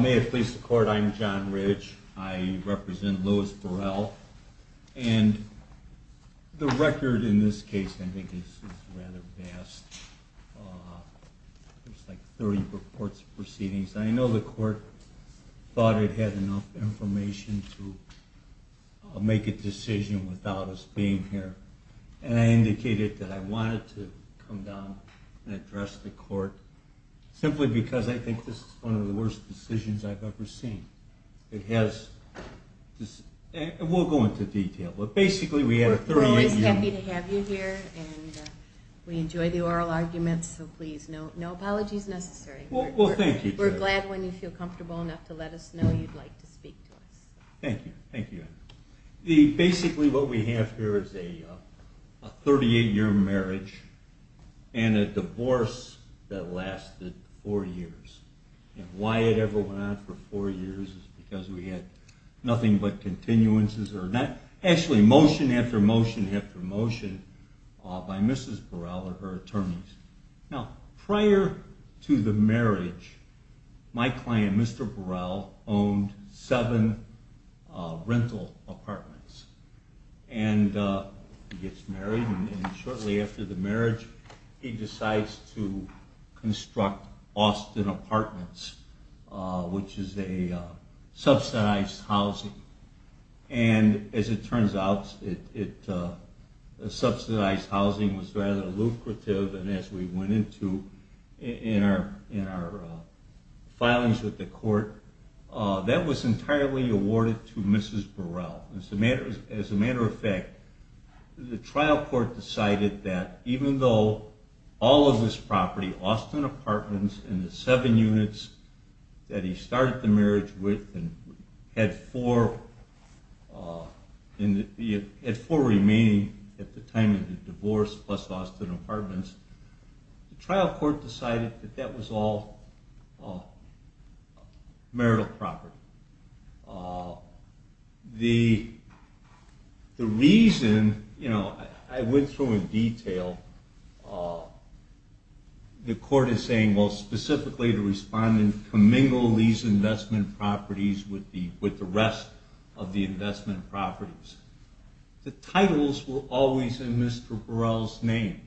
May it please the Court, I am John Ridge. I represent Louis Burrell. And the record in this case, I think, is rather vast. There's like 30 reports of proceedings. I know the Court thought it had enough information to make a decision without us being here. And I indicated that I wanted to come down and address the Court, simply because I think this is one of the worst decisions I've ever seen. It has, and we'll go into detail, but basically we had a 30-year view. We enjoy the oral arguments, so please, no apologies necessary. We're glad when you feel comfortable enough to let us know you'd like to speak to us. Thank you. Basically what we have here is a 38-year marriage and a divorce that lasted four years. And why it ever went on for four years is because we had nothing but continuances, or actually motion after motion by Mrs. Burrell and her attorneys. Now prior to the marriage, my client, Mr. Burrell, owned seven rental apartments. And he gets married and shortly after the marriage he decides to construct Austin Apartments, which is a subsidized housing. And as it turns out, subsidized housing was rather lucrative, and as we went into in our filings with the Court, that was entirely awarded to Mrs. Burrell. As a matter of fact, the trial court decided that even though all of his property, the Austin Apartments and the seven units that he started the marriage with had four remaining at the time of the divorce plus Austin Apartments, the trial court decided that that was all marital property. The reason, I went through in detail, the Court is saying specifically to respond and commingle these investment properties with the rest of the investment properties. The titles were always in Mr. Burrell's name.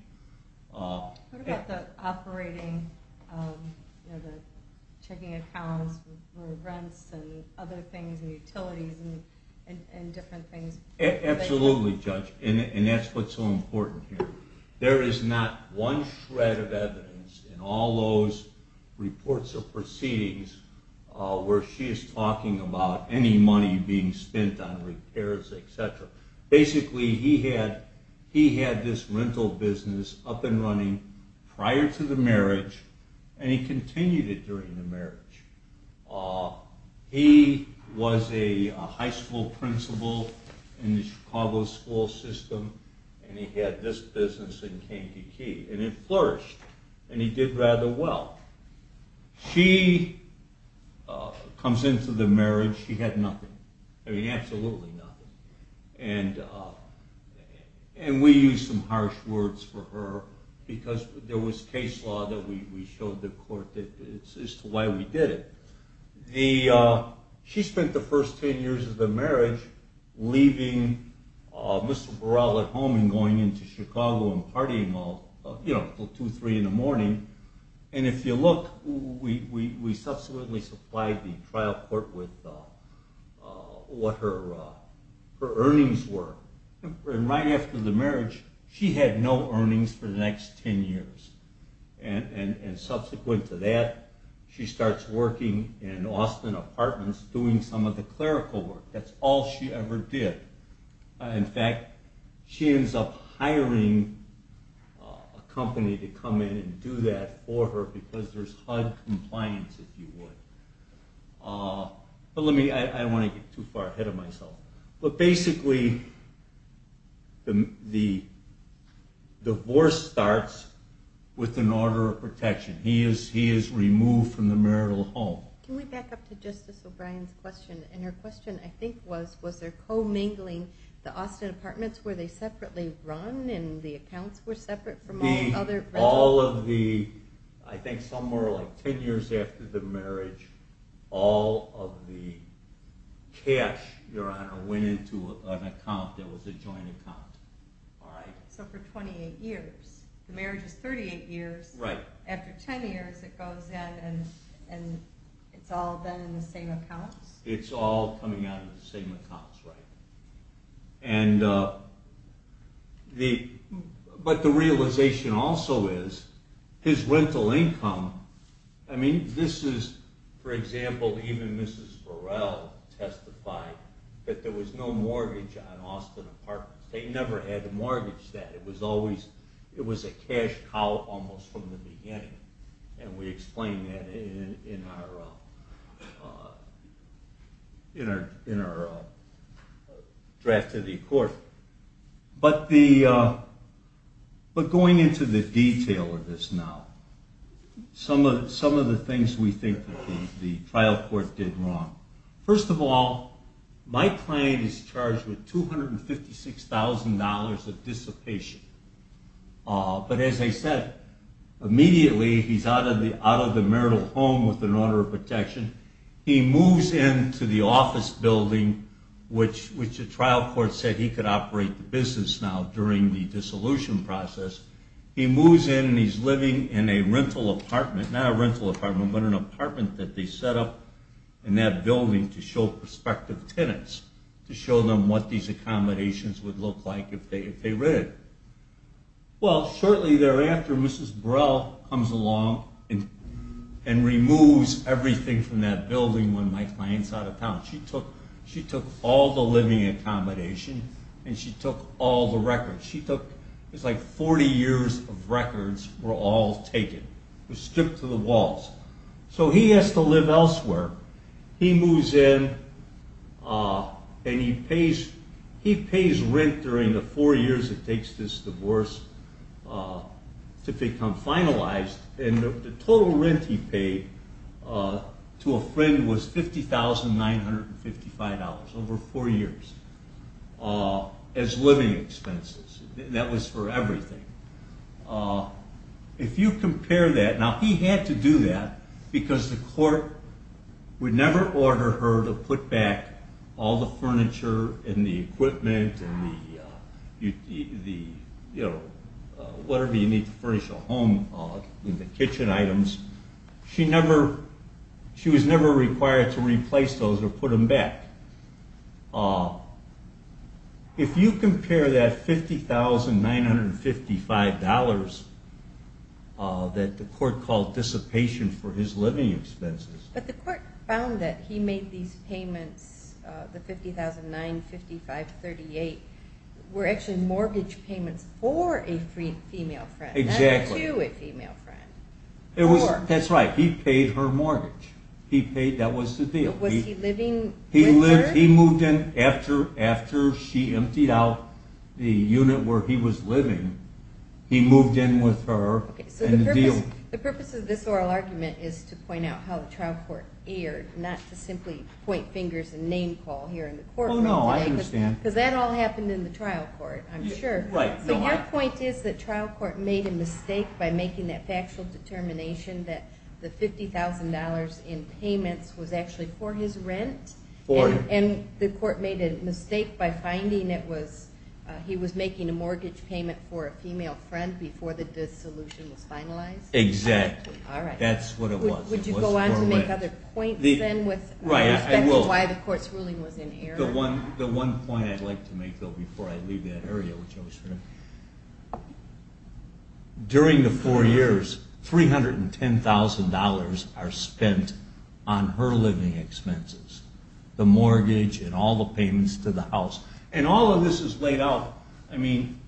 What about the operating, checking accounts for rents and other things, utilities and different things? Absolutely, Judge, and that's what's so important here. There is not one shred of evidence in all those reports or proceedings where she is talking about any money being spent on repairs, etc. Basically, he had this rental business up and running prior to the marriage, and he continued it during the marriage. He was a high school principal in the Chicago school system, and he had this business in Kankakee, and it flourished, and he did rather well. She comes into the marriage, she had nothing, absolutely nothing, and we used some harsh words for her because there was case law that we showed the court as to why we did it. She spent the first 10 years of the marriage leaving Mr. Burrell at home and going into Chicago and partying until 2 or 3 in the morning, and if you look, we subsequently supplied the trial court with what her earnings were. Right after the marriage, she had no earnings for the next 10 years, and subsequent to that, she starts working in Austin apartments doing some of the clerical work. That's all she ever did. In fact, she ends up hiring a company to come in and do that for her because there's HUD compliance, if you would. I don't want to get too far ahead of myself. Basically, the divorce starts with an order of protection. He is removed from the marital home. Can we back up to Justice O'Brien's question, and her question I think was, was there co-mingling? The Austin apartments, were they separately run, and the accounts were separate? All of the, I think somewhere like 10 years after the marriage, all of the cash, Your Honor, went into an account that was a joint account. So for 28 years. The marriage is 38 years. After 10 years, it goes in and it's all been in the same accounts? It's all coming out of the same accounts, right. But the realization also is, his rental income, I mean, this is, for example, even Mrs. Burrell testified that there was no mortgage on Austin apartments. They never had a mortgage. It was a cash cow almost from the beginning, and we explain that in our draft of the court. But going into the detail of this now, some of the things we think the trial court did wrong. First of all, my client is charged with $256,000 of dissipation. But as I said, immediately he's out of the marital home with an order of protection. He moves into the office building, which the trial court said he could operate the business now during the dissolution process. He moves in and he's living in a rental apartment, not a rental apartment, but an apartment that they set up in that building to show prospective tenants, to show them what these accommodations would look like if they rented. Well, shortly thereafter, Mrs. Burrell comes along and removes everything from that building when my client's out of town. She took all the living accommodation and she took all the records. It's like 40 years of records were all taken, stripped to the walls. So he has to live elsewhere. He moves in and he pays rent during the four years it takes this divorce to become finalized. And the total rent he paid to a friend was $50,955 over four years as living expenses. That was for everything. If you compare that, now he had to do that because the court would never order her to put back all the furniture and the equipment and whatever you need to furnish a home. The kitchen items. She was never required to replace those or put them back. If you compare that $50,955 that the court called dissipation for his living expenses. But the court found that he made these payments, the $50,955.38, were actually mortgage payments for a female friend, not to a female friend. That's right. He paid her mortgage. That was the deal. He moved in after she emptied out the unit where he was living. He moved in with her and the deal. The purpose of this oral argument is to point out how the trial court erred, not to simply point fingers and name call here in the courtroom. Oh, no, I understand. Because that all happened in the trial court, I'm sure. Right. So your point is that trial court made a mistake by making that factual determination that the $50,000 in payments was actually for his rent? For it. And the court made a mistake by finding it was, he was making a mortgage payment for a female friend before the dissolution was finalized? Exactly. All right. That's what it was. Would you go on to make other points then with why the court's ruling was in error? Let me make the one point I'd like to make, though, before I leave that area, which I was hearing. During the four years, $310,000 are spent on her living expenses, the mortgage and all the payments to the house. And all of this is laid out. I mean,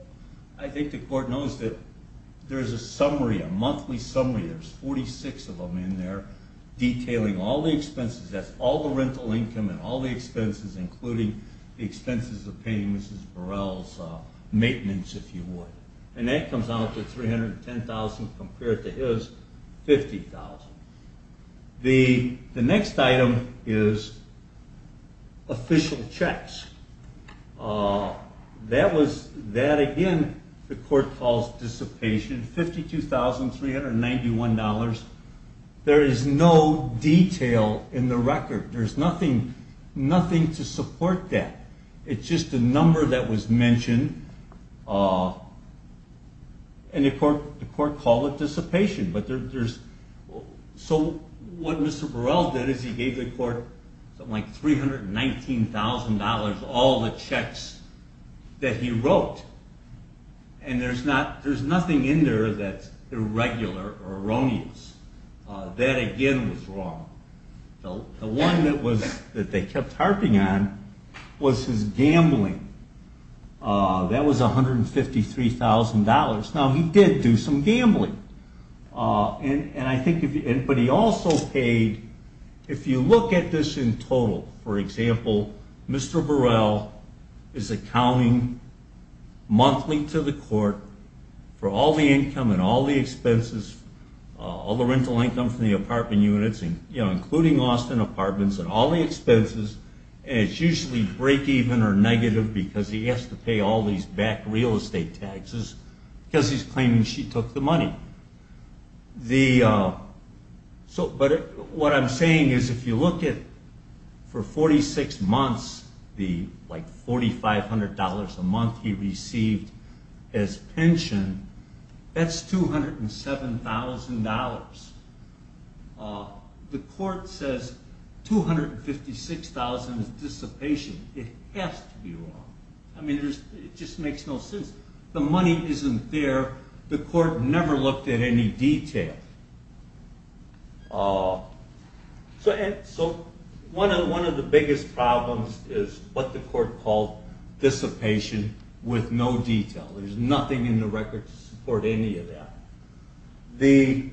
I think the court knows that there's a summary, a monthly summary, there's 46 of them in there, detailing all the expenses. That's all the rental income and all the expenses, including the expenses of paying Mrs. Burrell's maintenance, if you would. And that comes out to $310,000 compared to his $50,000. The next item is official checks. That was, that again, the court calls dissipation, $52,391. There is no detail in the record. There's nothing to support that. It's just a number that was mentioned, and the court called it dissipation. So what Mr. Burrell did is he gave the court something like $319,000, all the checks that he wrote. And there's nothing in there that's irregular or erroneous. That again was wrong. The one that they kept harping on was his gambling. That was $153,000. Now, he did do some gambling, but he also paid, if you look at this in total, for example, Mr. Burrell is accounting monthly to the court for all the income and all the expenses, all the rental income from the apartment units, including Austin apartments, and all the expenses. And it's usually breakeven or negative because he has to pay all these back real estate taxes because he's claiming she took the money. But what I'm saying is if you look at, for 46 months, the $4,500 a month he received as pension, that's $207,000. The court says $256,000 is dissipation. It has to be wrong. I mean, it just makes no sense. The money isn't there. The court never looked at any detail. So one of the biggest problems is what the court called dissipation with no detail. There's nothing in the record to support any of that.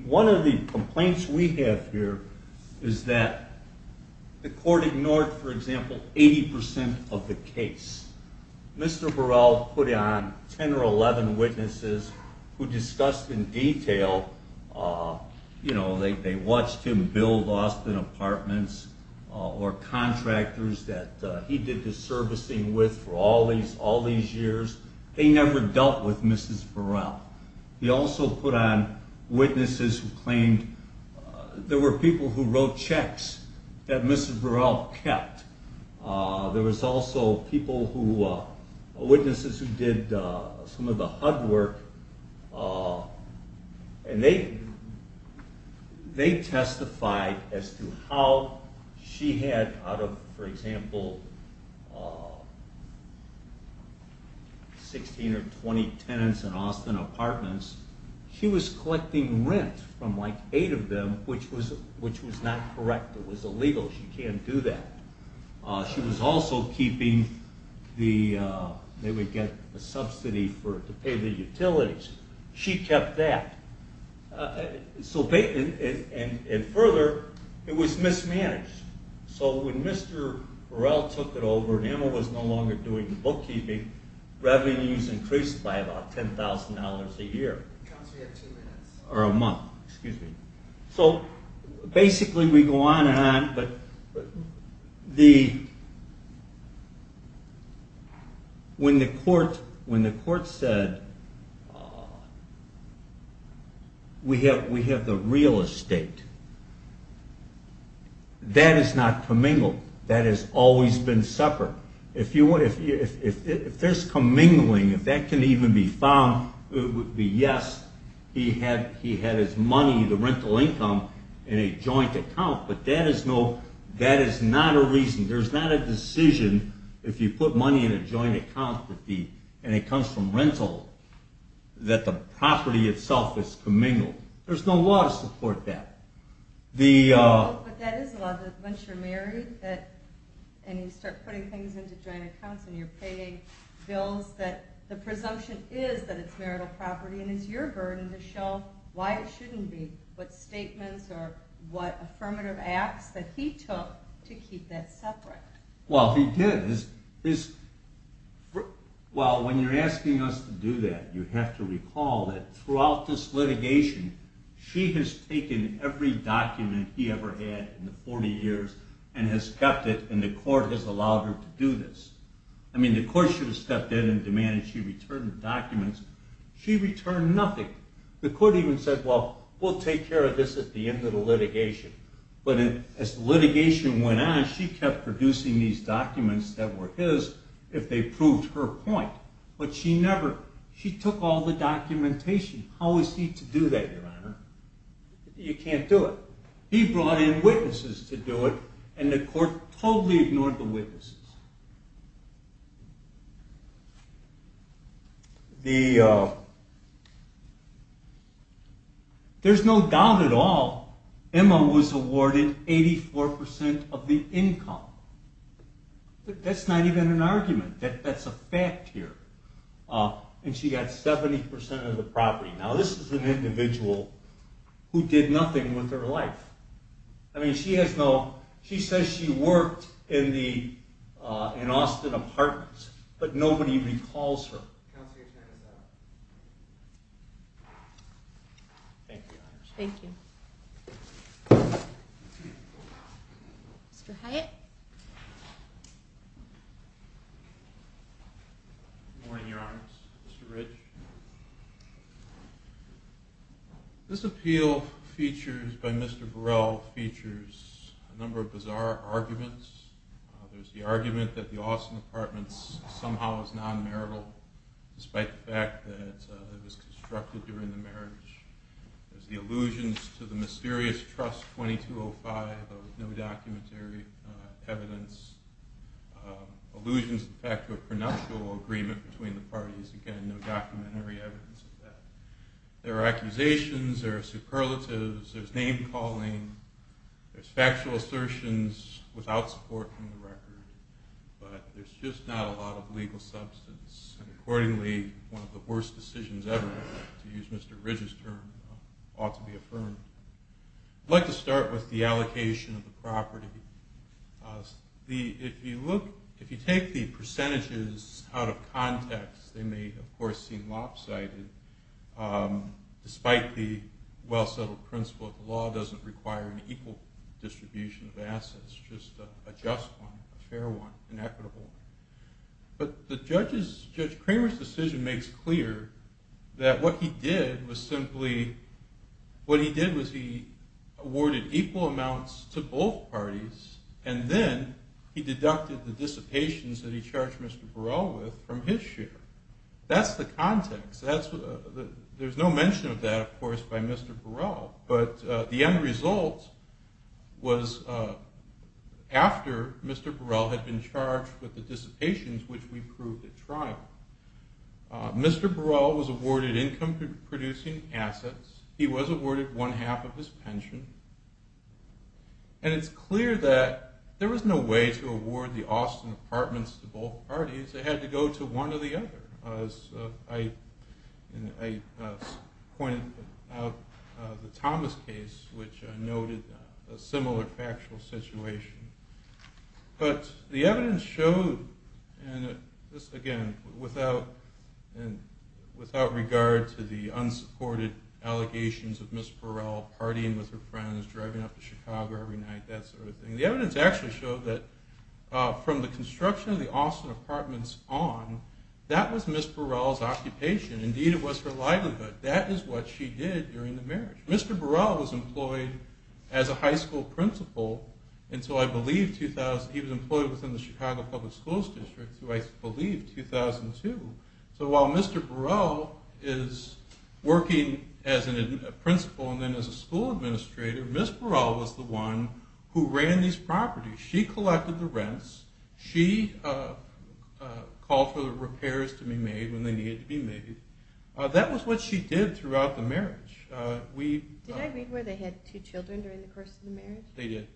One of the complaints we have here is that the court ignored, for example, 80% of the case. Mr. Burrell put on 10 or 11 witnesses who discussed in detail, you know, they watched him build Austin apartments or contractors that he did the servicing with for all these years. They never dealt with Mrs. Burrell. He also put on witnesses who claimed there were people who wrote checks that Mrs. Burrell kept. There was also people who, witnesses who did some of the HUD work, and they testified as to how she had, out of, for example, 16 or 20 tenants in Austin apartments, she was collecting rent from like eight of them, which was not correct. It was illegal. She can't do that. She was also keeping the, they would get a subsidy to pay the utilities. She kept that. So, and further, it was mismanaged. So when Mr. Burrell took it over and Emma was no longer doing the bookkeeping, revenues increased by about $10,000 a year. Or a month, excuse me. So basically we go on and on, but the, when the court said we have the real estate, that is not commingled. That has always been separate. If there's commingling, if that can even be found, it would be yes, he had his money, the rental income, in a joint account, but that is no, that is not a reason. There's not a decision if you put money in a joint account and it comes from rental, that the property itself is commingled. There's no law to support that. But that is a law, that once you're married and you start putting things into joint accounts and you're paying bills, that the presumption is that it's marital property and it's your burden to show why it shouldn't be, what statements or what affirmative acts that he took to keep that separate. Well, he did. Well, when you're asking us to do that, you have to recall that throughout this litigation, she has taken every document he ever had in the 40 years and has kept it and the court has allowed her to do this. I mean, the court should have stepped in and demanded she return the documents. She returned nothing. The court even said, well, we'll take care of this at the end of the litigation. But as litigation went on, she kept producing these documents that were his if they proved her point. But she never, she took all the documentation. How is he to do that, Your Honor? You can't do it. He brought in witnesses to do it and the court totally ignored the witnesses. There's no doubt at all. Emma was awarded 84% of the income. That's not even an argument. That's a fact here. And she got 70% of the property. Now, this is an individual who did nothing with her life. I mean, she has no, she says she worked in Austin Apartments, but nobody recalls her. Counselor, your time is up. Thank you, Your Honor. Thank you. Mr. Hyatt. Good morning, Your Honor. Mr. Ridge. This appeal features, by Mr. Burrell, features a number of bizarre arguments. There's the argument that the Austin Apartments somehow is non-marital, despite the fact that it was constructed during the marriage. There's the allusions to the mysterious Trust 2205. There was no documentary evidence. Allusions to the fact of a prenuptial agreement between the parties. Again, no documentary evidence of that. There are accusations. There are superlatives. There's name-calling. There's factual assertions without support from the record. But there's just not a lot of legal substance. Accordingly, one of the worst decisions ever, to use Mr. Ridge's term, ought to be affirmed. I'd like to start with the allocation of the property. If you look, if you take the percentages out of context, they may, of course, seem lopsided, despite the well-settled principle that the law doesn't require an equal distribution of assets, just a just one, a fair one, an equitable one. But Judge Cramer's decision makes clear that what he did was simply, what he did was he awarded equal amounts to both parties, and then he deducted the dissipations that he charged Mr. Burrell with from his share. That's the context. There's no mention of that, of course, by Mr. Burrell. But the end result was after Mr. Burrell had been charged with the dissipations, which we proved at trial. Mr. Burrell was awarded income-producing assets. He was awarded one-half of his pension. And it's clear that there was no way to award the Austin apartments to both parties. They had to go to one or the other, as I pointed out in the Thomas case, which noted a similar factual situation. But the evidence showed, and this, again, without regard to the unsupported allegations of Ms. Burrell partying with her friends, driving up to Chicago every night, that sort of thing. The evidence actually showed that from the construction of the Austin apartments on, that was Ms. Burrell's occupation. Indeed, it was her livelihood. That is what she did during the marriage. Mr. Burrell was employed as a high school principal until, I believe, 2000. He was employed within the Chicago Public Schools District until, I believe, 2002. So while Mr. Burrell is working as a principal and then as a school administrator, Ms. Burrell was the one who ran these properties. She collected the rents. She called for the repairs to be made when they needed to be made. That was what she did throughout the marriage. Did I read where they had two children during the course of the marriage? They did.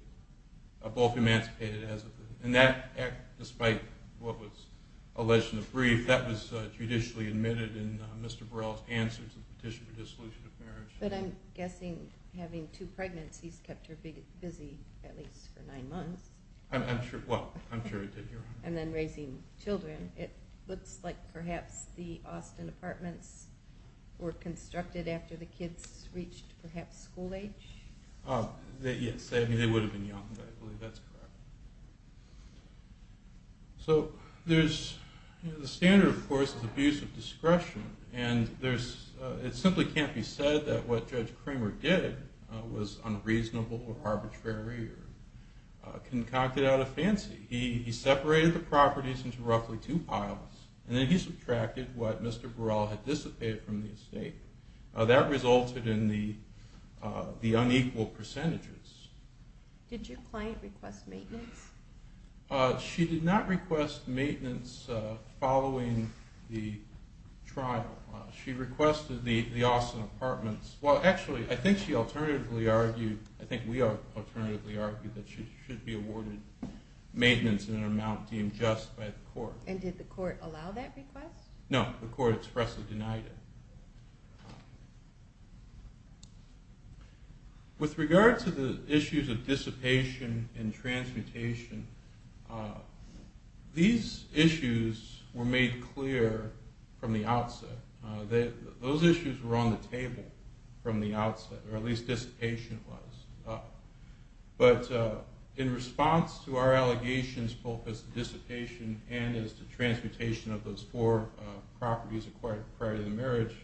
Both emancipated as of then. And that, despite what was alleged in the brief, that was judicially admitted But I'm guessing having two pregnancies kept her busy at least for nine months. I'm sure it did, Your Honor. And then raising children, it looks like perhaps the Austin apartments were constructed after the kids reached perhaps school age. Yes, they would have been young, but I believe that's correct. And it simply can't be said that what Judge Kramer did was unreasonable or arbitrary or concocted out of fancy. He separated the properties into roughly two piles, and then he subtracted what Mr. Burrell had dissipated from the estate. That resulted in the unequal percentages. Did your client request maintenance? She did not request maintenance following the trial. She requested the Austin apartments. Well, actually, I think she alternatively argued, I think we alternatively argued, that she should be awarded maintenance in an amount deemed just by the court. And did the court allow that request? No, the court expressly denied it. With regard to the issues of dissipation and transmutation, these issues were made clear from the outset. Those issues were on the table from the outset, or at least dissipation was. But in response to our allegations both as to dissipation and as to transmutation of those four properties acquired prior to the marriage,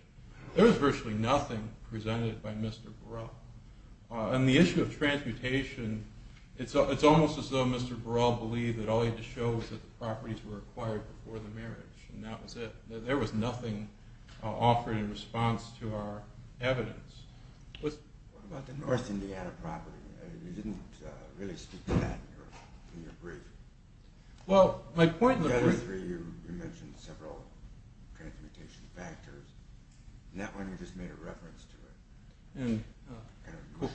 there was virtually nothing presented by Mr. Burrell. On the issue of transmutation, it's almost as though Mr. Burrell believed that all he had to show was that the properties were acquired before the marriage, and that was it. There was nothing offered in response to our evidence. What about the North Indiana property? You didn't really speak to that in your brief. Well, my point in the brief... You mentioned several transmutation factors. In that one, you just made a reference to it.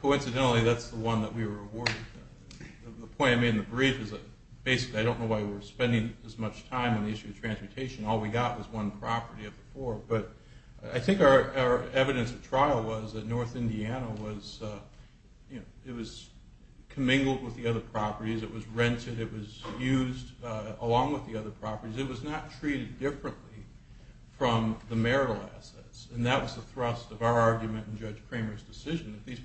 Coincidentally, that's the one that we were awarded. The point I made in the brief is that basically I don't know why we were spending as much time on the issue of transmutation. All we got was one property of the four. But I think our evidence of trial was that North Indiana was commingled with the other properties. It was rented. It was used along with the other properties. It was not treated differently from the marital assets, and that was the thrust of our argument in Judge Cramer's decision, that these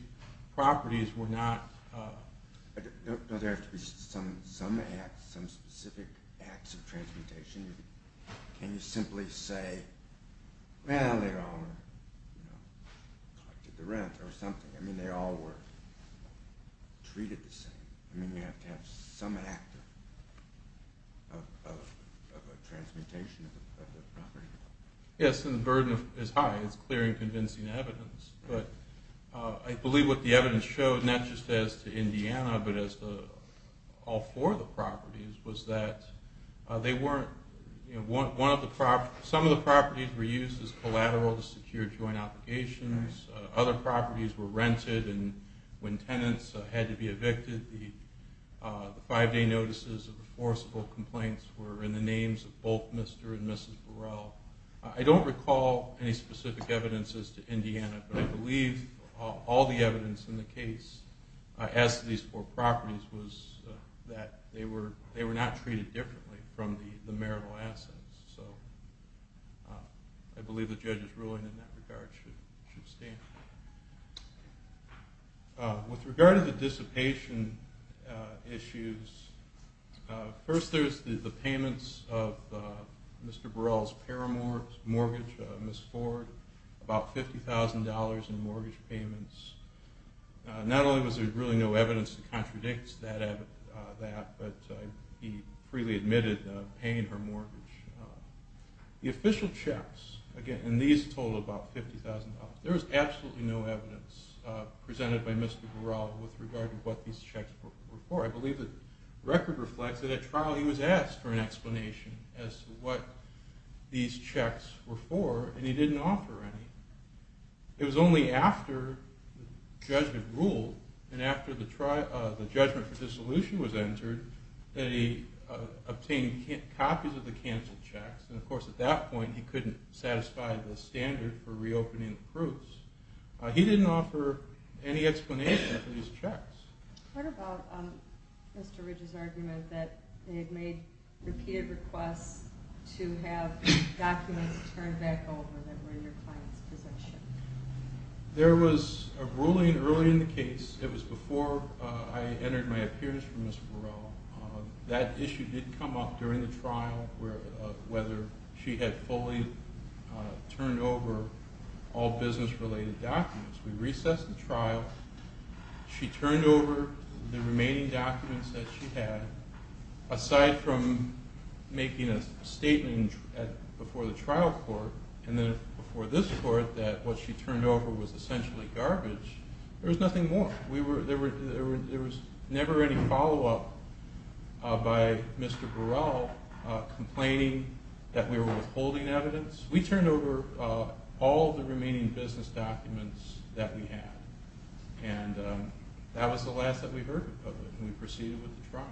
properties were not... There have to be some specific acts of transmutation. Can you simply say, well, they all collected the rent or something? I mean, they all were treated the same. I mean, you have to have some act of transmutation of the property. Yes, and the burden is high. It's clear and convincing evidence. But I believe what the evidence showed, not just as to Indiana, but as to all four of the properties, was that they weren't... Some of the properties were used as collateral to secure joint applications. Other properties were rented. And when tenants had to be evicted, the five-day notices of the forcible complaints were in the names of both Mr. and Mrs. Burrell. I don't recall any specific evidence as to Indiana, but I believe all the evidence in the case as to these four properties was that they were not treated differently from the marital assets. So I believe the judge's ruling in that regard should stand. With regard to the dissipation issues, first there's the payments of Mr. Burrell's mortgage, Miss Ford, about $50,000 in mortgage payments. Not only was there really no evidence that contradicts that, but he freely admitted paying her mortgage. The official checks, again, and these totaled about $50,000. There was absolutely no evidence presented by Mr. Burrell with regard to what these checks were for. I believe the record reflects that at trial he was asked for an explanation as to what these checks were for, and he didn't offer any. It was only after the judgment ruled, and after the judgment for dissolution was entered, that he obtained copies of the canceled checks, and of course at that point he couldn't satisfy the standard for reopening the proofs. He didn't offer any explanation for these checks. What about Mr. Ridge's argument that they had made repeated requests to have documents turned back over that were in your client's possession? There was a ruling early in the case. It was before I entered my appearance for Mr. Burrell. That issue did come up during the trial, whether she had fully turned over all business-related documents. We recessed the trial. She turned over the remaining documents that she had, aside from making a statement before the trial court, and then before this court that what she turned over was essentially garbage. There was nothing more. There was never any follow-up by Mr. Burrell complaining that we were withholding evidence. We turned over all the remaining business documents that we had, and that was the last that we heard of it when we proceeded with the trial.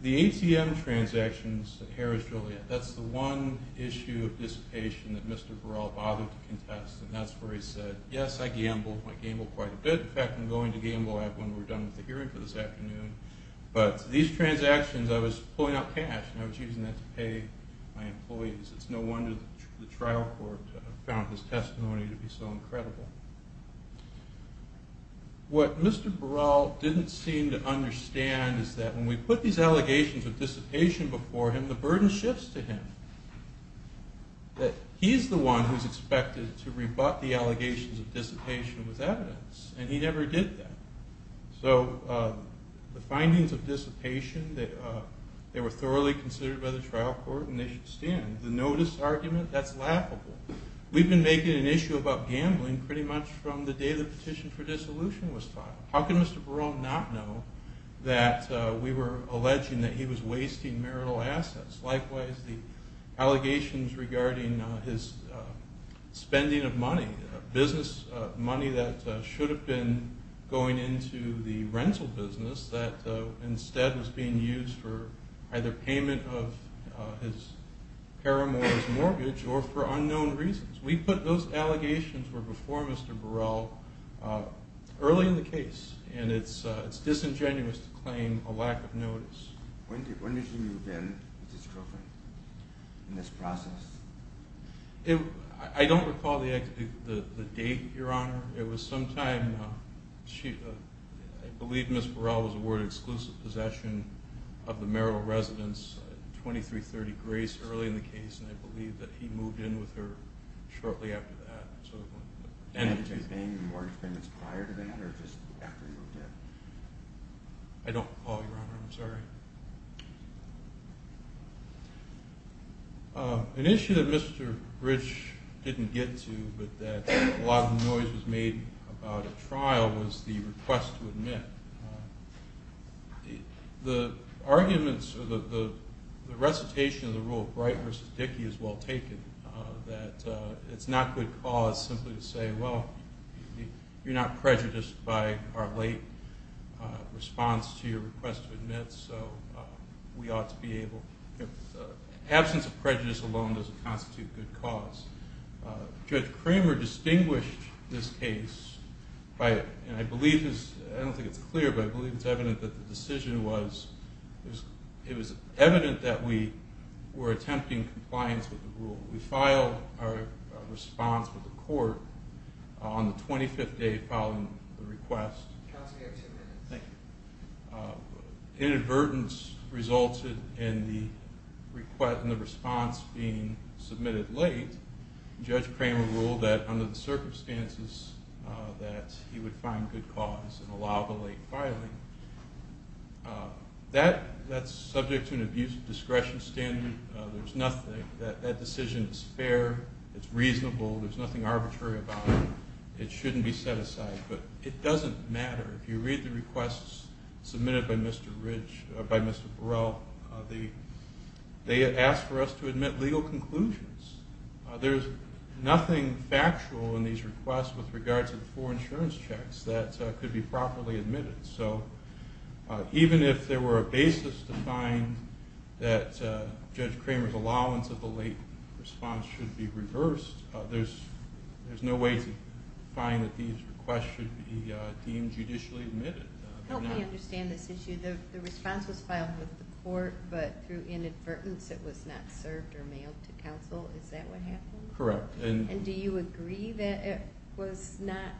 The ATM transactions at Harris-Joliet, that's the one issue of dissipation that Mr. Burrell bothered to contest, and that's where he said, yes, I gambled. I gambled quite a bit. In fact, I'm going to gamble when we're done with the hearing for this afternoon. But these transactions, I was pulling out cash, and I was using that to pay my employees. It's no wonder the trial court found his testimony to be so incredible. What Mr. Burrell didn't seem to understand is that when we put these allegations of dissipation before him, the burden shifts to him, that he's the one who's expected to rebut the allegations of dissipation with evidence, and he never did that. So the findings of dissipation, they were thoroughly considered by the trial court, and they should stand. The notice argument, that's laughable. We've been making an issue about gambling pretty much from the day the petition for dissolution was filed. How can Mr. Burrell not know that we were alleging that he was wasting marital assets? Likewise, the allegations regarding his spending of money, business money that should have been going into the rental business Those allegations were before Mr. Burrell early in the case, and it's disingenuous to claim a lack of notice. I don't recall the date, Your Honor. It was sometime, I believe Ms. Burrell was awarded exclusive possession of the marital residence at 2330 Grace early in the case, and I believe that he moved in with her shortly after that. So I don't know. And was he paying the mortgage payments prior to that, or just after he moved in? I don't recall, Your Honor. I'm sorry. An issue that Mr. Rich didn't get to, but that a lot of noise was made about at trial, was the request to admit. The arguments, or the recitation of the rule, Bright v. Dickey is well taken, that it's not good cause simply to say, well, you're not prejudiced by our late response to your request to admit, so we ought to be able... Absence of prejudice alone doesn't constitute good cause. Judge Kramer distinguished this case by, and I believe this, I don't think it's clear, but I believe it's evident that the decision was, it was evident that we were attempting compliance with the rule. We filed our response with the court on the 25th day of filing the request. Counsel, you have two minutes. Thank you. Inadvertence resulted in the response being submitted late. Judge Kramer ruled that under the circumstances that he would find good cause and allow the late filing. That's subject to an abuse of discretion standard. There's nothing. That decision is fair. It's reasonable. There's nothing arbitrary about it. It shouldn't be set aside, but it doesn't matter. If you read the requests submitted by Mr. Ridge, by Mr. Burrell, they asked for us to admit legal conclusions. There's nothing factual in these requests with regards to the four insurance checks that could be properly admitted. So even if there were a basis to find that Judge Kramer's allowance of the late response should be reversed, there's no way to find that these requests should be deemed judicially admitted. Help me understand this issue. The response was filed with the court, but through inadvertence it was not served or mailed to counsel. Is that what happened? Correct. And do you agree that it was not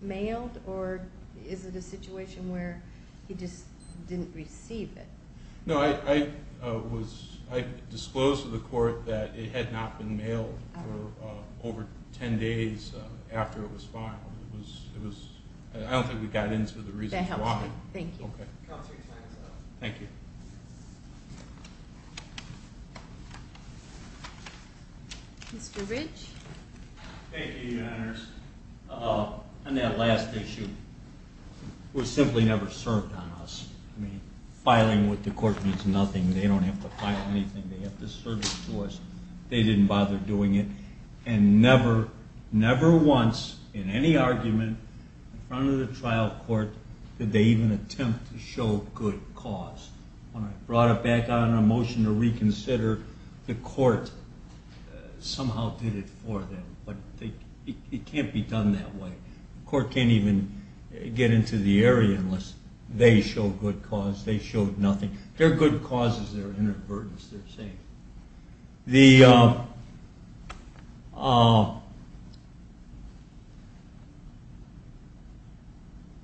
mailed, or is it a situation where he just didn't receive it? No, I disclosed to the court that it had not been mailed for over ten days after it was filed. I don't think we got into the reasons why. That helps me. Thank you. Counselor, your time is up. Thank you. Mr. Ridge. Thank you, Your Honors. On that last issue, it was simply never served on us. Filing with the court means nothing. They don't have to file anything. They have to serve it to us. They didn't bother doing it. And never, never once in any argument in front of the trial court did they even attempt to show good cause. When I brought it back out on a motion to reconsider, the court somehow did it for them. But it can't be done that way. The court can't even get into the area unless they show good cause. They showed nothing. Their good cause is their inadvertence, they're saying.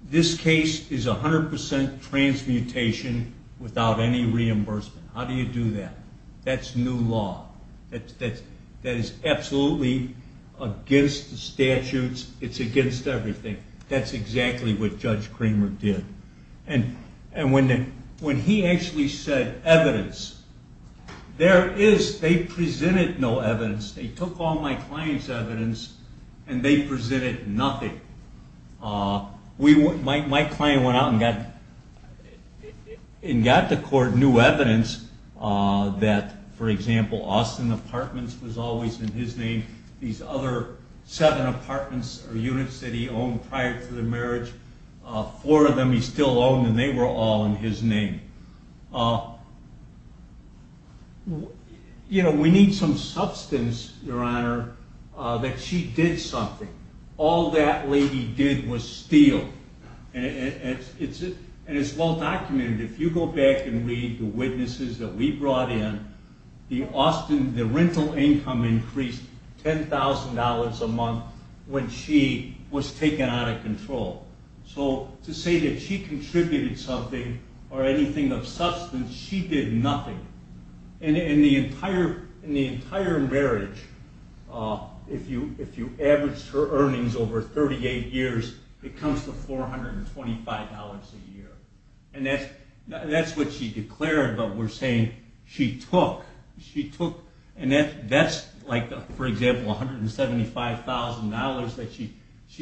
This case is 100% transmutation without any reimbursement. How do you do that? That's new law. That is absolutely against the statutes. It's against everything. That's exactly what Judge Cramer did. And when he actually said evidence, they presented no evidence. They took all my client's evidence, and they presented nothing. My client went out and got to court new evidence that, for example, Austin Apartments was always in his name. These other seven apartments or units that he owned prior to the marriage, four of them he still owned, and they were all in his name. We need some substance, Your Honor, that she did something. All that lady did was steal. And it's well documented. If you go back and read the witnesses that we brought in, the rental income increased $10,000 a month when she was taken out of control. So to say that she contributed something or anything of substance, she did nothing. In the entire marriage, if you average her earnings over 38 years, it comes to $425 a year. And that's what she declared, but we're saying she took. And that's, for example, $175,000 that she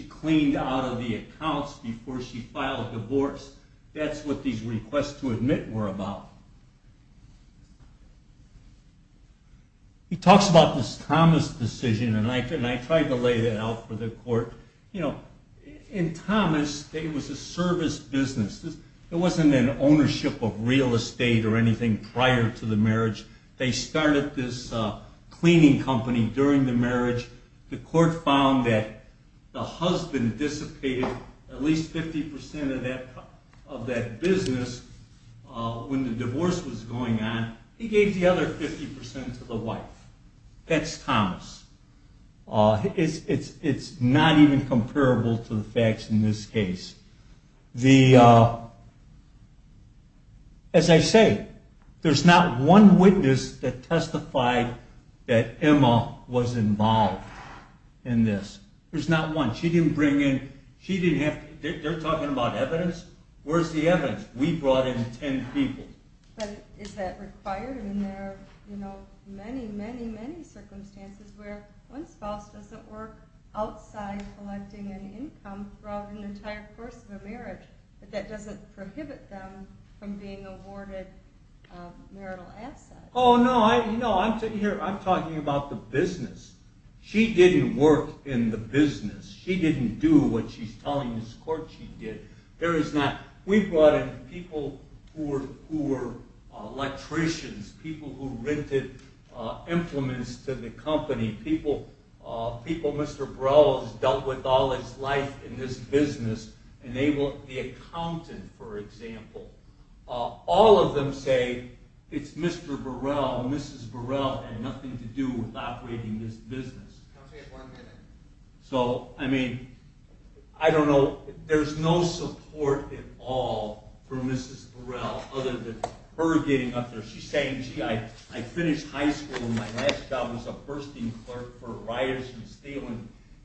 cleaned out of the accounts before she filed divorce. That's what these requests to admit were about. He talks about this Thomas decision, and I tried to lay that out for the court. In Thomas, it was a service business. It wasn't an ownership of real estate or anything prior to the marriage. They started this cleaning company during the marriage. The court found that the husband dissipated at least 50% of that business when the divorce was going on. He gave the other 50% to the wife. That's Thomas. It's not even comparable to the facts in this case. As I say, there's not one witness that testified that Emma was involved in this. There's not one. She didn't bring in... They're talking about evidence? Where's the evidence? We brought in 10 people. But is that required? I mean, there are many, many, many circumstances where one spouse doesn't work outside collecting an income throughout an entire course of a marriage, but that doesn't prohibit them from being awarded marital assets. Oh, no. I'm talking about the business. She didn't work in the business. She didn't do what she's telling this court she did. We brought in people who were electricians, people who rented implements to the company, people Mr. Burrell has dealt with all his life in this business, the accountant, for example. All of them say it's Mr. Burrell, Mrs. Burrell, had nothing to do with operating this business. So, I mean, I don't know. There's no support at all from Mrs. Burrell other than her getting up there. She's saying, gee, I finished high school, and my last job was a bursting clerk for Ryerson Steel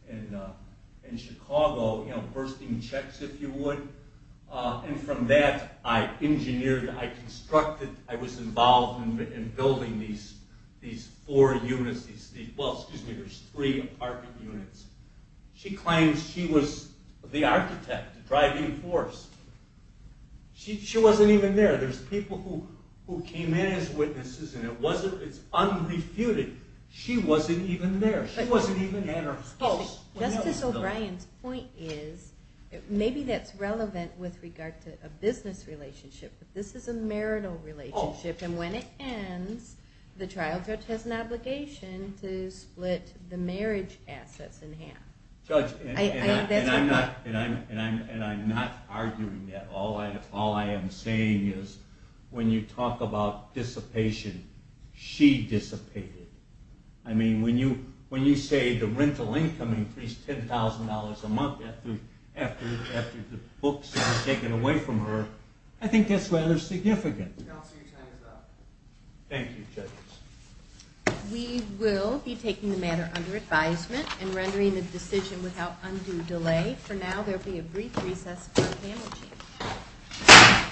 in Chicago, bursting checks, if you would. And from that, I engineered, I constructed, I was involved in building these four units. Well, excuse me, there's three apartment units. She claims she was the architect, the driving force. She wasn't even there. There's people who came in as witnesses, and it's unrefuted. She wasn't even there. She wasn't even at her house. Justice O'Brien's point is maybe that's relevant with regard to a business relationship, but this is a marital relationship, and when it ends, the trial judge has an obligation to split the marriage assets in half. Judge, and I'm not arguing that. All I am saying is when you talk about dissipation, she dissipated. I mean, when you say the rental income increased $10,000 a month after the books were taken away from her, I think that's rather significant. Counsel, your time is up. Thank you, judges. We will be taking the matter under advisement and rendering the decision without undue delay. All right. For now, there will be a brief recess for the panel.